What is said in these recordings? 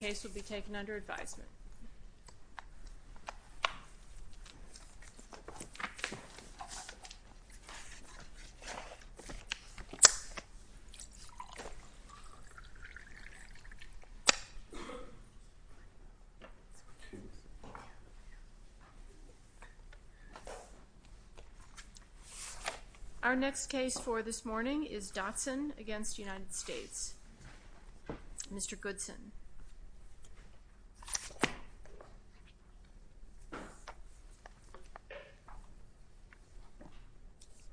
The case will be taken under advisement. Our next case for this morning is Dotson v. United States. Mr. Goodson.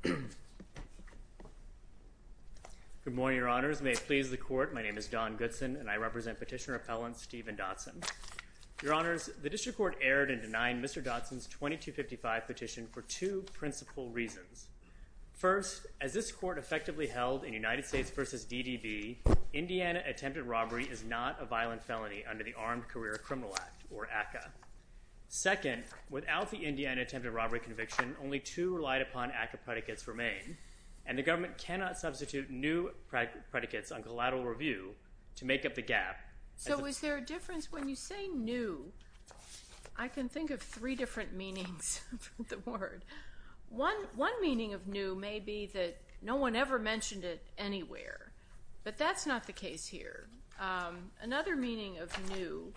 Good morning, Your Honors. May it please the Court, my name is Don Goodson and I represent Petitioner-Appellant Stephen Dotson. Your Honors, the District Court erred in denying Mr. Dotson's 2255 petition for two principal reasons. First, as this Court effectively held in United States v. DDB, Indiana attempted robbery is not a violent felony under the Armed Career Criminal Act, or ACCA. Second, without the Indiana attempted robbery conviction, only two relied upon ACCA predicates remain, and the government cannot substitute new predicates on collateral review to make up the gap. So is there a difference when you say new? I can think of three different meanings of the word. One meaning of new may be that no one ever mentioned it anywhere, but that's not the case here. Another meaning of new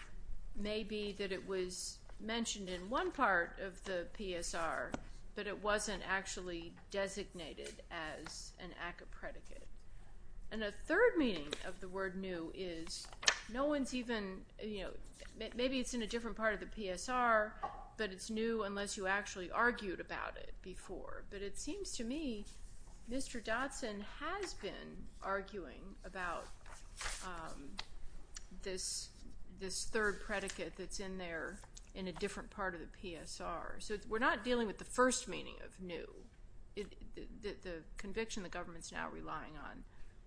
may be that it was mentioned in one part of the PSR, but it wasn't actually designated as an ACCA predicate. And a third meaning of the word new is no one's even, you know, maybe it's in a different part of the PSR, but it's new unless you actually argued about it before. But it seems to me Mr. Dotson has been arguing about this third predicate that's in there in a different part of the PSR. So we're not dealing with the first meaning of new, the conviction the government's now relying on.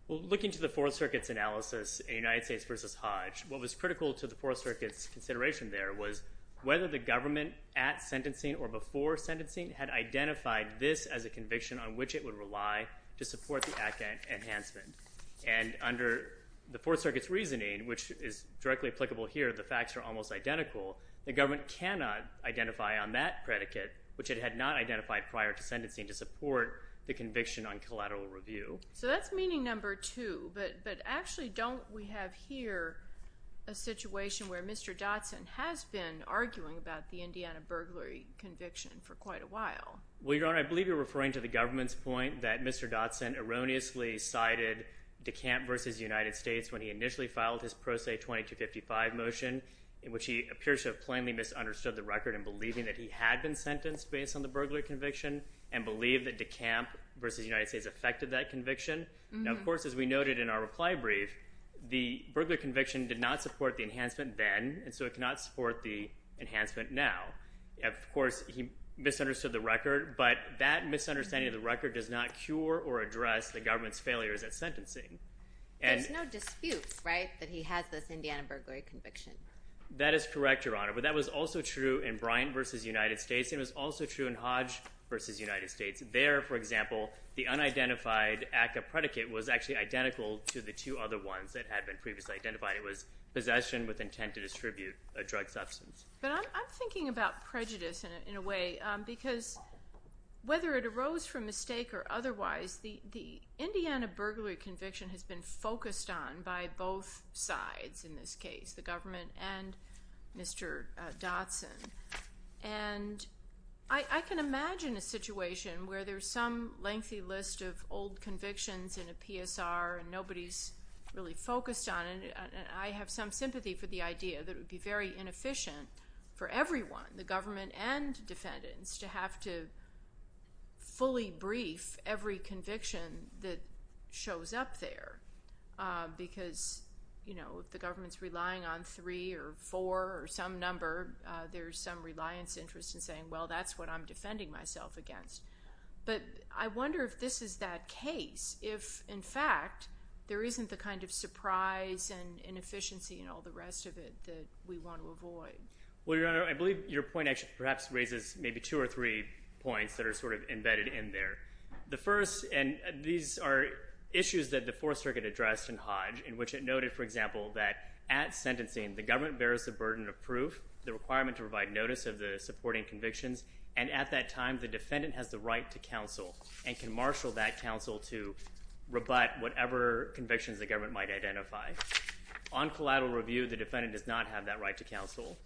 Well, looking to the Fourth Circuit's analysis in United States v. Hodge, what was critical to the Fourth Circuit's consideration there was whether the government at sentencing or before sentencing had identified this as a conviction on which it would rely to support the ACCA enhancement. And under the Fourth Circuit's reasoning, which is directly applicable here, the facts are almost identical, the government cannot identify on that predicate which it had not identified prior to sentencing to support the conviction on collateral review. So that's meaning number two, but actually don't we have here a situation where Mr. Dotson has been arguing about the Indiana burglary conviction for quite a while? Well, Your Honor, I believe you're referring to the government's point that Mr. Dotson erroneously cited DeCamp v. United States when he initially filed his Pro Se 2255 motion, in which he appears to have plainly misunderstood the record in believing that he had been sentenced based on the burglary conviction and believed that DeCamp v. United States affected that burglary conviction. Now, of course, as we noted in our reply brief, the burglary conviction did not support the enhancement then, and so it cannot support the enhancement now. Of course, he misunderstood the record, but that misunderstanding of the record does not cure or address the government's failures at sentencing. There's no dispute, right, that he has this Indiana burglary conviction? That is correct, Your Honor, but that was also true in Bryant v. United States, and it was also true in Hodge v. United States. There, for example, the unidentified ACCA predicate was actually identical to the two other ones that had been previously identified. It was possession with intent to distribute a drug substance. But I'm thinking about prejudice in a way, because whether it arose from mistake or otherwise, the Indiana burglary conviction has been focused on by both sides in this case, the government and Mr. Dotson. And I can imagine a situation where there's some lengthy list of old convictions in a PSR and nobody's really focused on it, and I have some sympathy for the idea that it would be very inefficient for everyone, the government and defendants, to have to fully brief every conviction that shows up there, because, you know, if the government's relying on three or four or some number, there's some reliance interest in saying, well, that's what I'm defending myself against. But I wonder if this is that case, if, in fact, there isn't the kind of surprise and inefficiency and all the rest of it that we want to avoid. Well, Your Honor, I believe your point actually perhaps raises maybe two or three points that are sort of embedded in there. The first, and these are issues that the Fourth Circuit addressed in Hodge, in which it noted, for example, that at sentencing, the government bears the burden of proof, the requirement to provide notice of the supporting convictions, and at that time, the defendant has the right to counsel and can marshal that counsel to rebut whatever convictions the government might identify. On collateral review, the defendant does not have that right to counsel.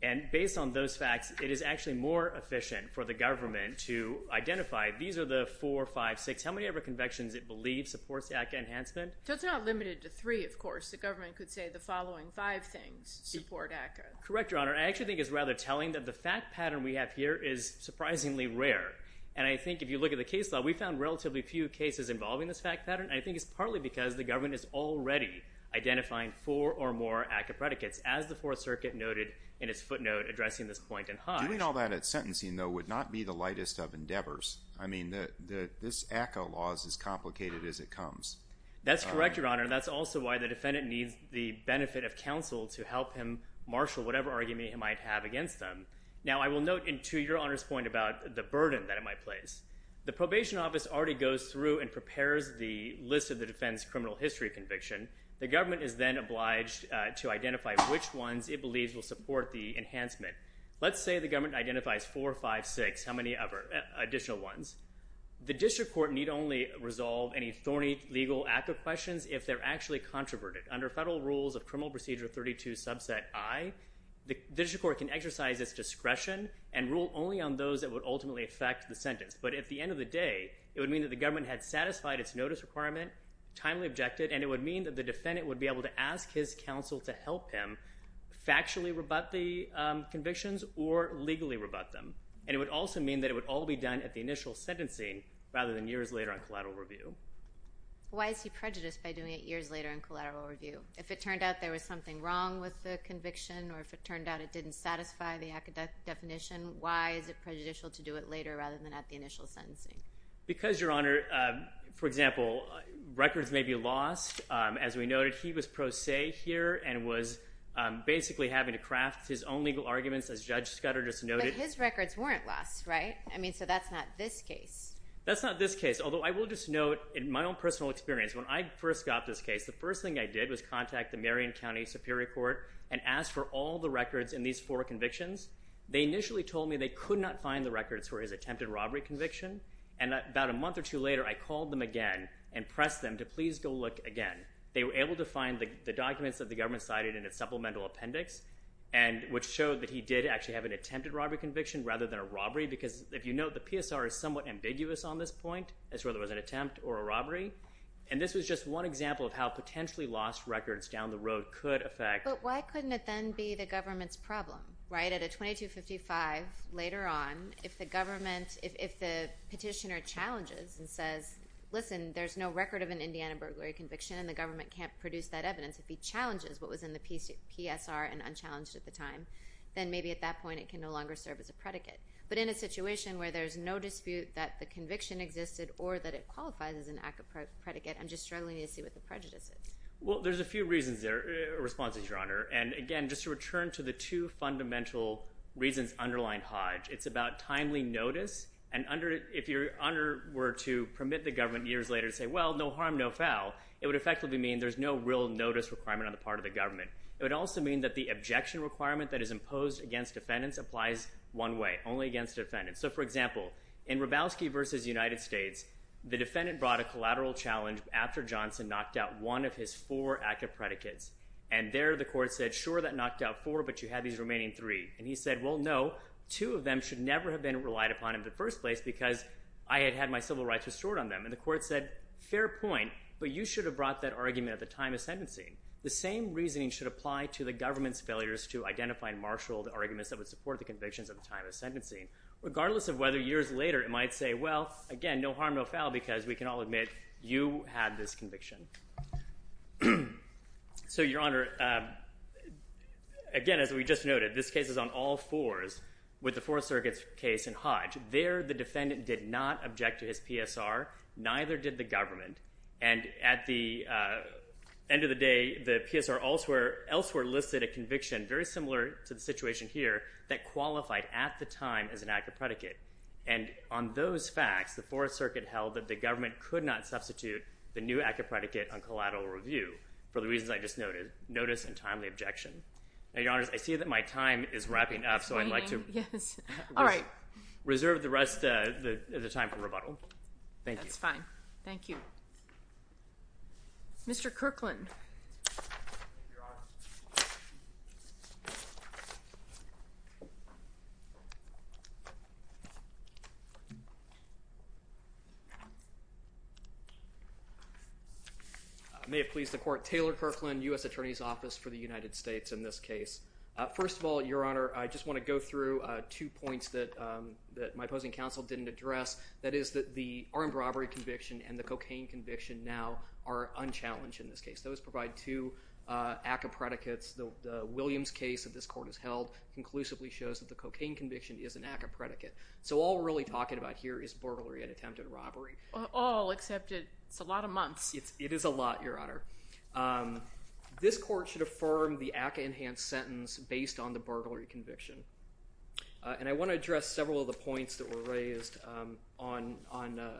And based on those facts, it is actually more efficient for the government to identify, these are the four, five, six, how many of the convictions it believes supports ACCA enhancement? So it's not limited to three, of course. The government could say the following five things support ACCA. Correct, Your Honor. I actually think it's rather telling that the fact pattern we have here is surprisingly rare. And I think if you look at the case law, we found relatively few cases involving this fact pattern. I think it's partly because the government is already identifying four or more ACCA predicates, as the Fourth Circuit noted in its footnote addressing this point in Hodge. Doing all that at sentencing, though, would not be the lightest of endeavors. I mean, this ACCA law is as complicated as it comes. That's correct, Your Honor. And that's also why the defendant needs the benefit of counsel to help him marshal whatever argument he might have against them. Now, I will note, to Your Honor's point about the burden that it might place, the probation office already goes through and prepares the list of the defendant's criminal history conviction. The government is then obliged to identify which ones it believes will support the enhancement. Let's say the government identifies four, five, six, how many additional ones? The district court need only resolve any thorny legal ACCA questions if they're actually controverted. Under federal rules of Criminal Procedure 32 Subset I, the district court can exercise its discretion and rule only on those that would ultimately affect the sentence. But at the end of the day, it would mean that the government had satisfied its notice requirement, timely objected, and it would mean that the defendant would be able to ask his counsel to help him factually rebut the convictions or legally rebut them. And it would also mean that it would all be done at the initial sentencing rather than years later on collateral review. Why is he prejudiced by doing it years later in collateral review? If it turned out there was something wrong with the conviction or if it turned out it didn't satisfy the ACCA definition, why is it prejudicial to do it later rather than at the initial sentencing? Because Your Honor, for example, records may be lost. As we noted, he was pro se here and was basically having to craft his own legal arguments as Judge Scudder just noted. But his records weren't lost, right? I mean, so that's not this case. That's not this case. Although I will just note in my own personal experience, when I first got this case, the first thing I did was contact the Marion County Superior Court and ask for all the records in these four convictions. They initially told me they could not find the records for his attempted robbery conviction. And about a month or two later, I called them again and pressed them to please go look again. They were able to find the documents that the government cited in its supplemental appendix and which showed that he did actually have an attempted robbery conviction rather than a robbery. Because if you note, the PSR is somewhat ambiguous on this point as to whether it was an attempt or a robbery. And this was just one example of how potentially lost records down the road could affect. But why couldn't it then be the government's problem, right? At a 2255, later on, if the petitioner challenges and says, listen, there's no record of an Indiana burglary conviction and the government can't produce that evidence, if he challenges what was in the PSR and unchallenged at the time, then maybe at that point it can no longer serve as a predicate. But in a situation where there's no dispute that the conviction existed or that it qualifies as an act of predicate, I'm just struggling to see what the prejudice is. Well, there's a few reasons there, responses, Your Honor. And again, just to return to the two fundamental reasons underlying Hodge, it's about timely notice and if your honor were to permit the government years later to say, well, no harm, no foul, it would effectively mean there's no real notice requirement on the part of the government. It would also mean that the objection requirement that is imposed against defendants applies one way, only against defendants. So for example, in Hrabowski v. United States, the defendant brought a collateral challenge after Johnson knocked out one of his four active predicates. And there the court said, sure, that knocked out four, but you have these remaining three. And he said, well, no, two of them should never have been relied upon in the first place because I had had my civil rights restored on them. And the court said, fair point, but you should have brought that argument at the time of sentencing. The same reasoning should apply to the government's failures to identify and marshal the arguments that would support the convictions at the time of sentencing. Regardless of whether years later it might say, well, again, no harm, no foul because we can all admit you had this conviction. So Your Honor, again, as we just noted, this case is on all fours with the Fourth Circuit's case in Hodge. There, the defendant did not object to his PSR, neither did the government. And at the end of the day, the PSR elsewhere listed a conviction very similar to the situation here that qualified at the time as an active predicate. And on those facts, the Fourth Circuit held that the government could not substitute the new active predicate on collateral review for the reasons I just noted, notice and timely objection. Now, Your Honors, I see that my time is wrapping up. So I'd like to reserve the rest of the time for rebuttal. Thank you. That's fine. Thank you. Mr. Kirkland. Thank you, Your Honor. I may have pleased the court. Taylor Kirkland, U.S. Attorney's Office for the United States in this case. First of all, Your Honor, I just want to go through two points that my opposing counsel didn't address. That is that the armed robbery conviction and the cocaine conviction now are unchallenged in this case. Those provide two active predicates. The Williams case that this court has held conclusively shows that the cocaine conviction is an active predicate. So all we're really talking about here is burglary and attempted robbery. All except it's a lot of months. It is a lot, Your Honor. This court should affirm the ACCA-enhanced sentence based on the burglary conviction. And I want to address several of the points that were raised on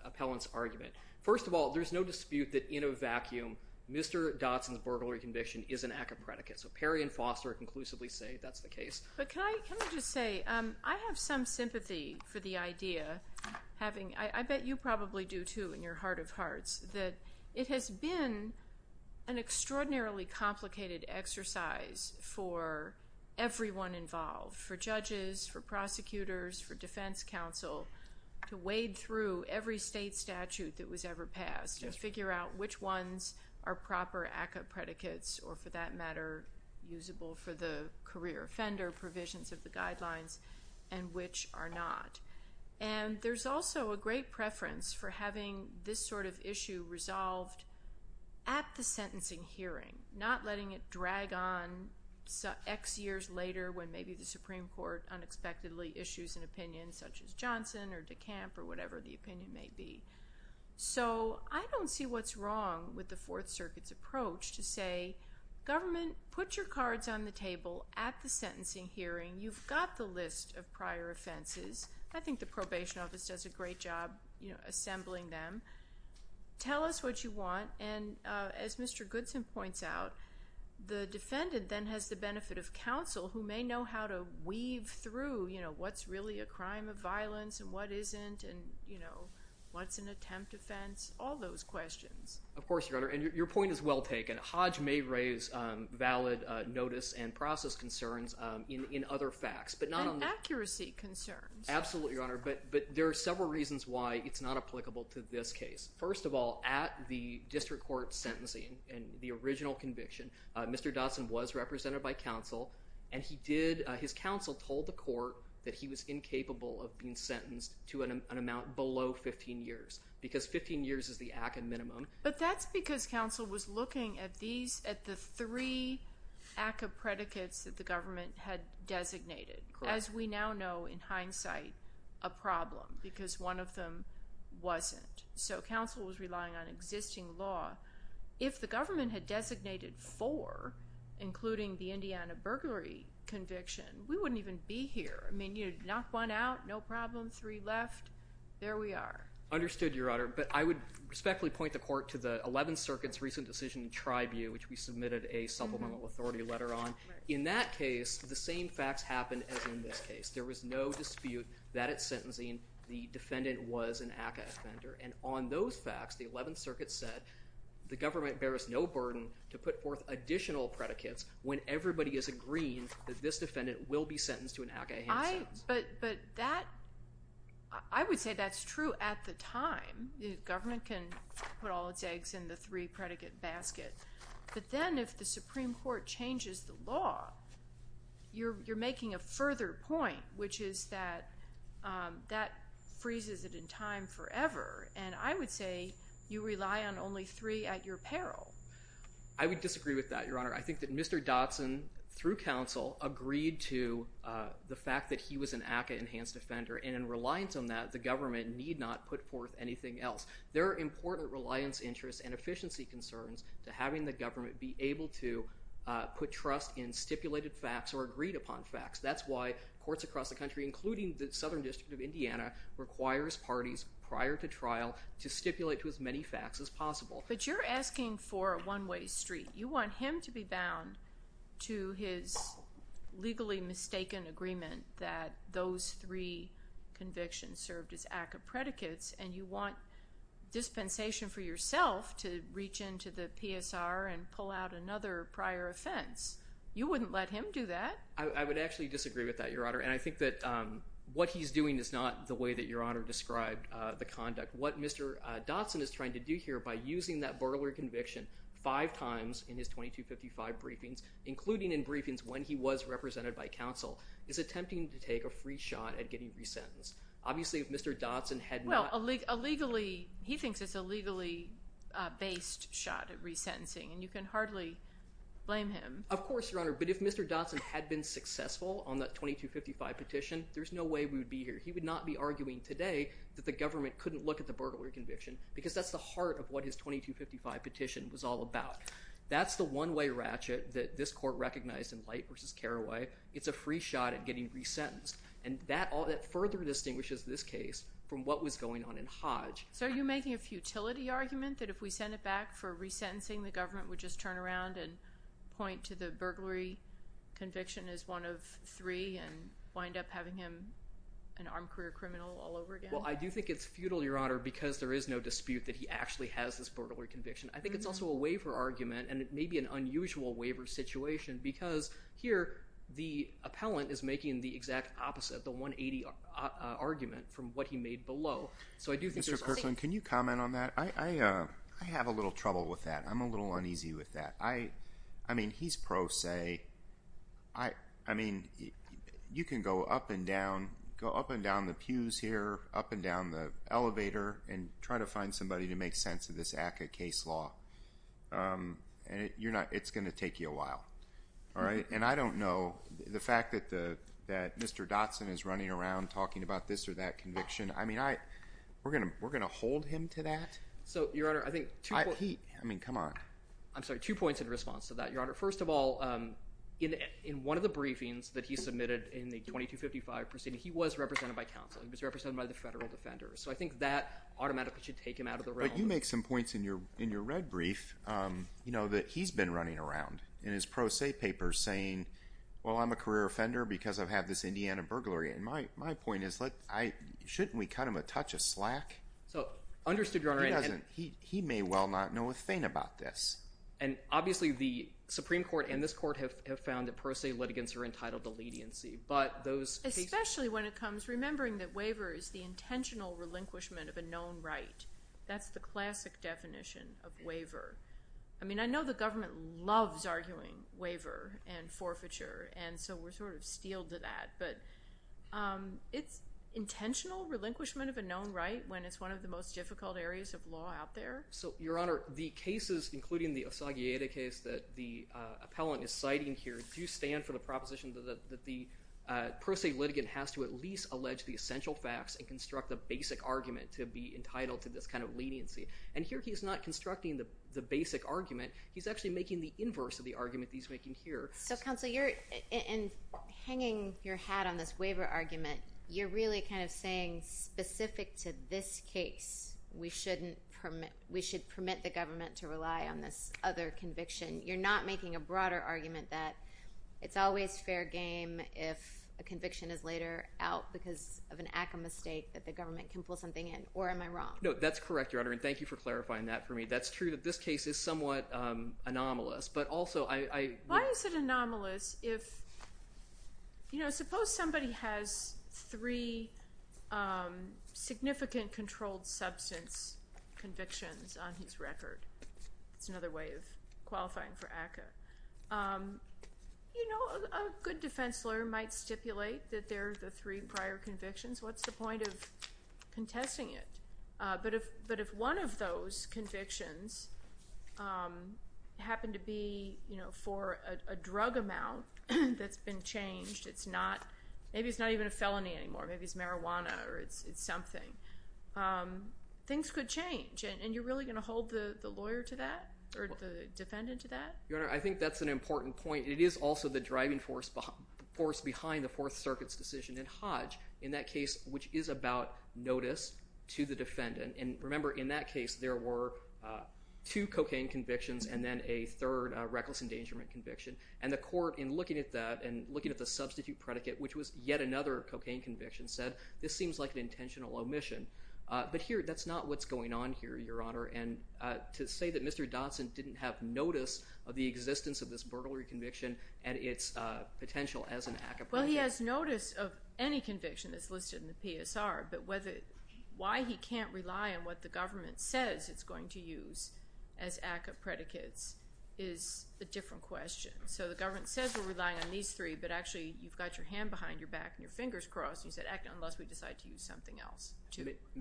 Appellant's argument. First of all, there's no dispute that in a vacuum, Mr. Dotson's burglary conviction is an ACCA predicate. So Perry and Foster conclusively say that's the case. But can I just say, I have some sympathy for the idea having, I bet you probably do too in your heart of hearts, that it has been an extraordinarily complicated exercise for everyone involved, for judges, for prosecutors, for defense counsel, to wade through every state statute that was ever passed to figure out which ones are proper ACCA predicates or for that matter, usable for the career offender provisions of the guidelines and which are not. And there's also a great preference for having this sort of issue resolved at the sentencing hearing, not letting it drag on X years later when maybe the Supreme Court unexpectedly issues an opinion such as Johnson or DeCamp or whatever the opinion may be. So I don't see what's wrong with the Fourth Circuit's approach to say, government, put your cards on the table at the sentencing hearing. You've got the list of prior offenses. I think the probation office does a great job assembling them. Tell us what you want. And as Mr. Goodson points out, the defendant then has the benefit of counsel who may know how to weave through what's really a crime of violence and what isn't and what's an attempt offense, all those questions. Of course, Your Honor. And your point is well taken. Hodge may raise valid notice and process concerns in other facts. But not on the... And accuracy concerns. Absolutely, Your Honor. But there are several reasons why it's not applicable to this case. First of all, at the district court sentencing and the original conviction, Mr. Dotson was represented by counsel and he did, his counsel told the court that he was incapable of being sentenced to an amount below 15 years because 15 years is the ACA minimum. But that's because counsel was looking at these, at the three ACA predicates that the government had designated. As we now know, in hindsight, a problem because one of them wasn't. So counsel was relying on existing law. If the government had designated four, including the Indiana burglary conviction, we wouldn't even be here. I mean, you'd knock one out, no problem, three left. There we are. Understood, Your Honor. But I would respectfully point the court to the 11th Circuit's recent decision in Tribune, which we submitted a supplemental authority letter on. In that case, the same facts happened as in this case. There was no dispute that at sentencing, the defendant was an ACA offender. And on those facts, the 11th Circuit said the government bears no burden to put forth additional predicates when everybody is agreeing that this defendant will be sentenced to an ACA handsense. But that, I would say that's true at the time. The government can put all its eggs in the three predicate basket. But then if the Supreme Court changes the law, you're making a further point, which is that that freezes it in time forever. And I would say you rely on only three at your peril. I would disagree with that, Your Honor. I think that Mr. Dotson, through counsel, agreed to the fact that he was an ACA enhanced offender. And in reliance on that, the government need not put forth anything else. There are important reliance interests and efficiency concerns to having the government be able to put trust in stipulated facts or agreed upon facts. That's why courts across the country, including the Southern District of Indiana, requires parties prior to trial to stipulate to as many facts as possible. But you're asking for a one-way street. You want him to be bound to his legally mistaken agreement that those three convictions served as ACA predicates, and you want dispensation for yourself to reach into the PSR and pull out another prior offense. You wouldn't let him do that. I would actually disagree with that, Your Honor. And I think that what he's doing is not the way that Your Honor described the conduct. What Mr. Dotson is trying to do here, by using that burglary conviction five times in his 2255 briefings, including in briefings when he was represented by counsel, is attempting to take a free shot at getting resentenced. Obviously, if Mr. Dotson had not... Well, illegally, he thinks it's a legally based shot at resentencing, and you can hardly blame him. Of course, Your Honor. But if Mr. Dotson had been successful on that 2255 petition, there's no way we would be here. He would not be arguing today that the government couldn't look at the burglary conviction because that's the heart of what his 2255 petition was all about. That's the one-way ratchet that this court recognized in Light v. Carraway. It's a free shot at getting resentenced. And that further distinguishes this case from what was going on in Hodge. So are you making a futility argument that if we sent it back for resentencing, the government would just turn around and point to the burglary conviction as one of three and wind up having him an armed career criminal all over again? Well, I do think it's futile, Your Honor, because there is no dispute that he actually has this burglary conviction. I think it's also a waiver argument, and it may be an unusual waiver situation, because here, the appellant is making the exact opposite, the 180 argument from what he made below. So I do think there's a... Mr. Kirshlin, can you comment on that? I have a little trouble with that. I'm a little uneasy with that. I mean, he's pro se. I mean, you can go up and down, go up and down the pews here, up and down the elevator, and try to find somebody to make sense of this ACCA case law, and it's going to take you a while. All right? And I don't know... The fact that Mr. Dotson is running around talking about this or that conviction, I mean, we're going to hold him to that? So Your Honor, I think... He... I'm sorry. Two points in response to that, Your Honor. First of all, in one of the briefings that he submitted in the 2255 proceeding, he was represented by counsel. He was represented by the federal defenders. So I think that automatically should take him out of the realm. But you make some points in your red brief, you know, that he's been running around in his pro se papers saying, well, I'm a career offender because I've had this Indiana burglary. And my point is, shouldn't we cut him a touch of slack? So understood, Your Honor, and... He may well not know a thing about this. And obviously, the Supreme Court and this court have found that pro se litigants are entitled to leniency. But those cases... Especially when it comes... Remembering that waiver is the intentional relinquishment of a known right. That's the classic definition of waiver. I mean, I know the government loves arguing waiver and forfeiture. And so we're sort of steeled to that. But it's intentional relinquishment of a known right when it's one of the most difficult areas of law out there. So, Your Honor, the cases, including the Osagieda case that the appellant is citing here, do stand for the proposition that the pro se litigant has to at least allege the essential facts and construct a basic argument to be entitled to this kind of leniency. And here he's not constructing the basic argument. He's actually making the inverse of the argument he's making here. So counsel, you're... And hanging your hat on this waiver argument, you're really kind of saying specific to this case, we shouldn't permit... We should permit the government to rely on this other conviction. You're not making a broader argument that it's always fair game if a conviction is later out because of an act of mistake that the government can pull something in. Or am I wrong? No, that's correct, Your Honor. And thank you for clarifying that for me. That's true that this case is somewhat anomalous. But also I... Why is it anomalous if... There are three significant controlled substance convictions on his record. That's another way of qualifying for ACCA. A good defense lawyer might stipulate that they're the three prior convictions. What's the point of contesting it? But if one of those convictions happened to be for a drug amount that's been changed, it's not... Maybe it's not even a felony anymore. Maybe it's marijuana or it's something. Things could change. And you're really going to hold the lawyer to that or the defendant to that? Your Honor, I think that's an important point. It is also the driving force behind the Fourth Circuit's decision in Hodge, in that case which is about notice to the defendant. And remember, in that case, there were two cocaine convictions and then a third reckless endangerment conviction. And the court, in looking at that and looking at the substitute predicate, which was yet another cocaine conviction, said, this seems like an intentional omission. But here, that's not what's going on here, Your Honor. And to say that Mr. Dotson didn't have notice of the existence of this burglary conviction and its potential as an ACCA predicate... Well, he has notice of any conviction that's listed in the PSR, but why he can't rely on what the government says it's going to use as ACCA predicates is a different question. So the government says we're relying on these three, but actually you've got your hand behind your back and your fingers crossed, and you said ACCA, unless we decide to use something else.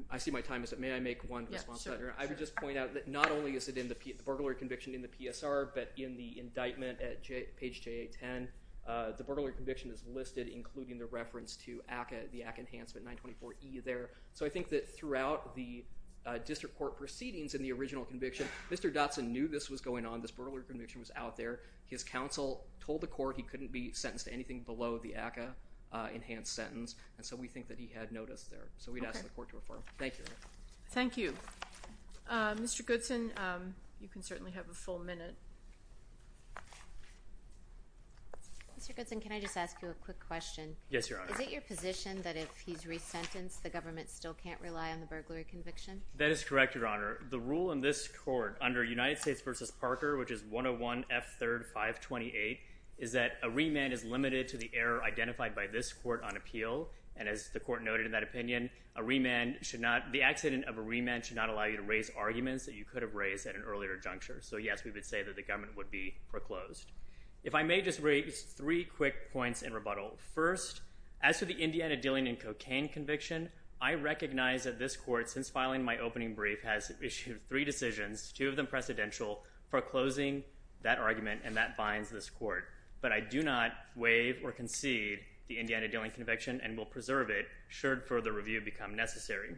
I see my time is up. May I make one response, Your Honor? Yes, sure. I would just point out that not only is it in the burglary conviction in the PSR, but in the indictment at page JA-10, the burglary conviction is listed, including the reference to ACCA, the ACCA Enhancement 924E there. So I think that throughout the district court proceedings in the original conviction, Mr. Dotson knew this was going on, this burglary conviction was out there. His counsel told the court he couldn't be sentenced to anything below the ACCA enhanced sentence, and so we think that he had notice there. So we'd ask the court to refer him. Okay. Thank you. Thank you. Mr. Goodson, you can certainly have a full minute. Mr. Goodson, can I just ask you a quick question? Yes, Your Honor. Is it your position that if he's resentenced, the government still can't rely on the burglary conviction? That is correct, Your Honor. can't rely on the burglary conviction. is that a remand is limited to the error identified by this court on appeal, and as the court noted in that opinion, the accident of a remand should not allow you to raise arguments that you could have raised at an earlier juncture. So yes, we would say that the government would be proclosed. If I may just raise three quick points in rebuttal. First, as to the Indiana dealing in cocaine conviction, I recognize that this court, since filing my opening brief, has issued three decisions, two of them precedential, foreclosing that argument, and that binds this court. But I do not waive or concede the Indiana dealing conviction and will preserve it should further review become necessary.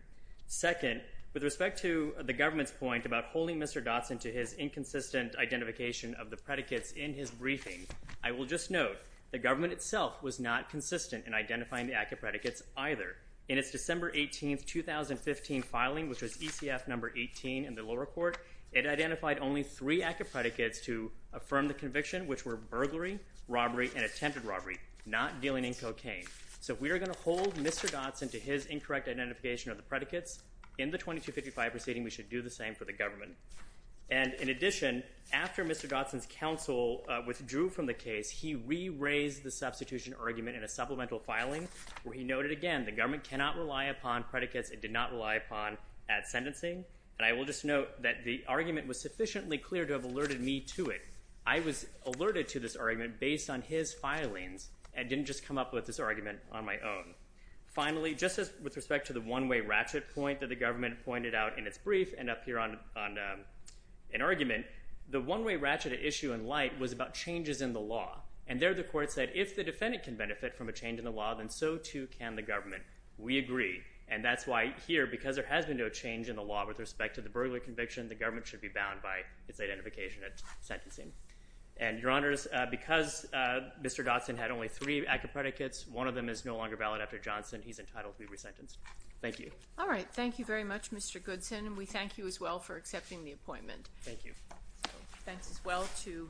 Second, with respect to the government's point about holding Mr. Dotson to his inconsistent identification of the predicates in his briefing, I will just note the government itself was not consistent in identifying the active predicates either. In its December 18, 2015 filing, which was ECF number 18 in the lower court, it identified only three active predicates to affirm the conviction, which were burglary, robbery, and attempted robbery, not dealing in cocaine. So if we are going to hold Mr. Dotson to his incorrect identification of the predicates in the 2255 proceeding, we should do the same for the government. And, in addition, after Mr. Dotson's counsel withdrew from the case, he re-raised the substitution argument in a supplemental filing where he noted again the government cannot rely upon predicates it did not rely upon at sentencing. And I will just note that the argument was sufficiently clear to have alerted me to it. I was alerted to this argument based on his filings and didn't just come up with this argument on my own. Finally, just as with respect to the one-way ratchet point that the government pointed out in its brief and up here on an argument, the one-way ratchet issue in light was about changes in the law. And there the court said, if the defendant can benefit from a change in the law, then so too can the government. We agree. And that's why here, because there has been no change in the law with respect to the burglary conviction, the government should be bound by its identification at sentencing. And, Your Honors, because Mr. Dotson had only three active predicates, one of them is no longer valid after Johnson. He's entitled to be resentenced. Thank you. All right. Thank you very much, Mr. Goodson. And we thank you as well for accepting the appointment. Thank you. Thanks as well to Mr. Goodson.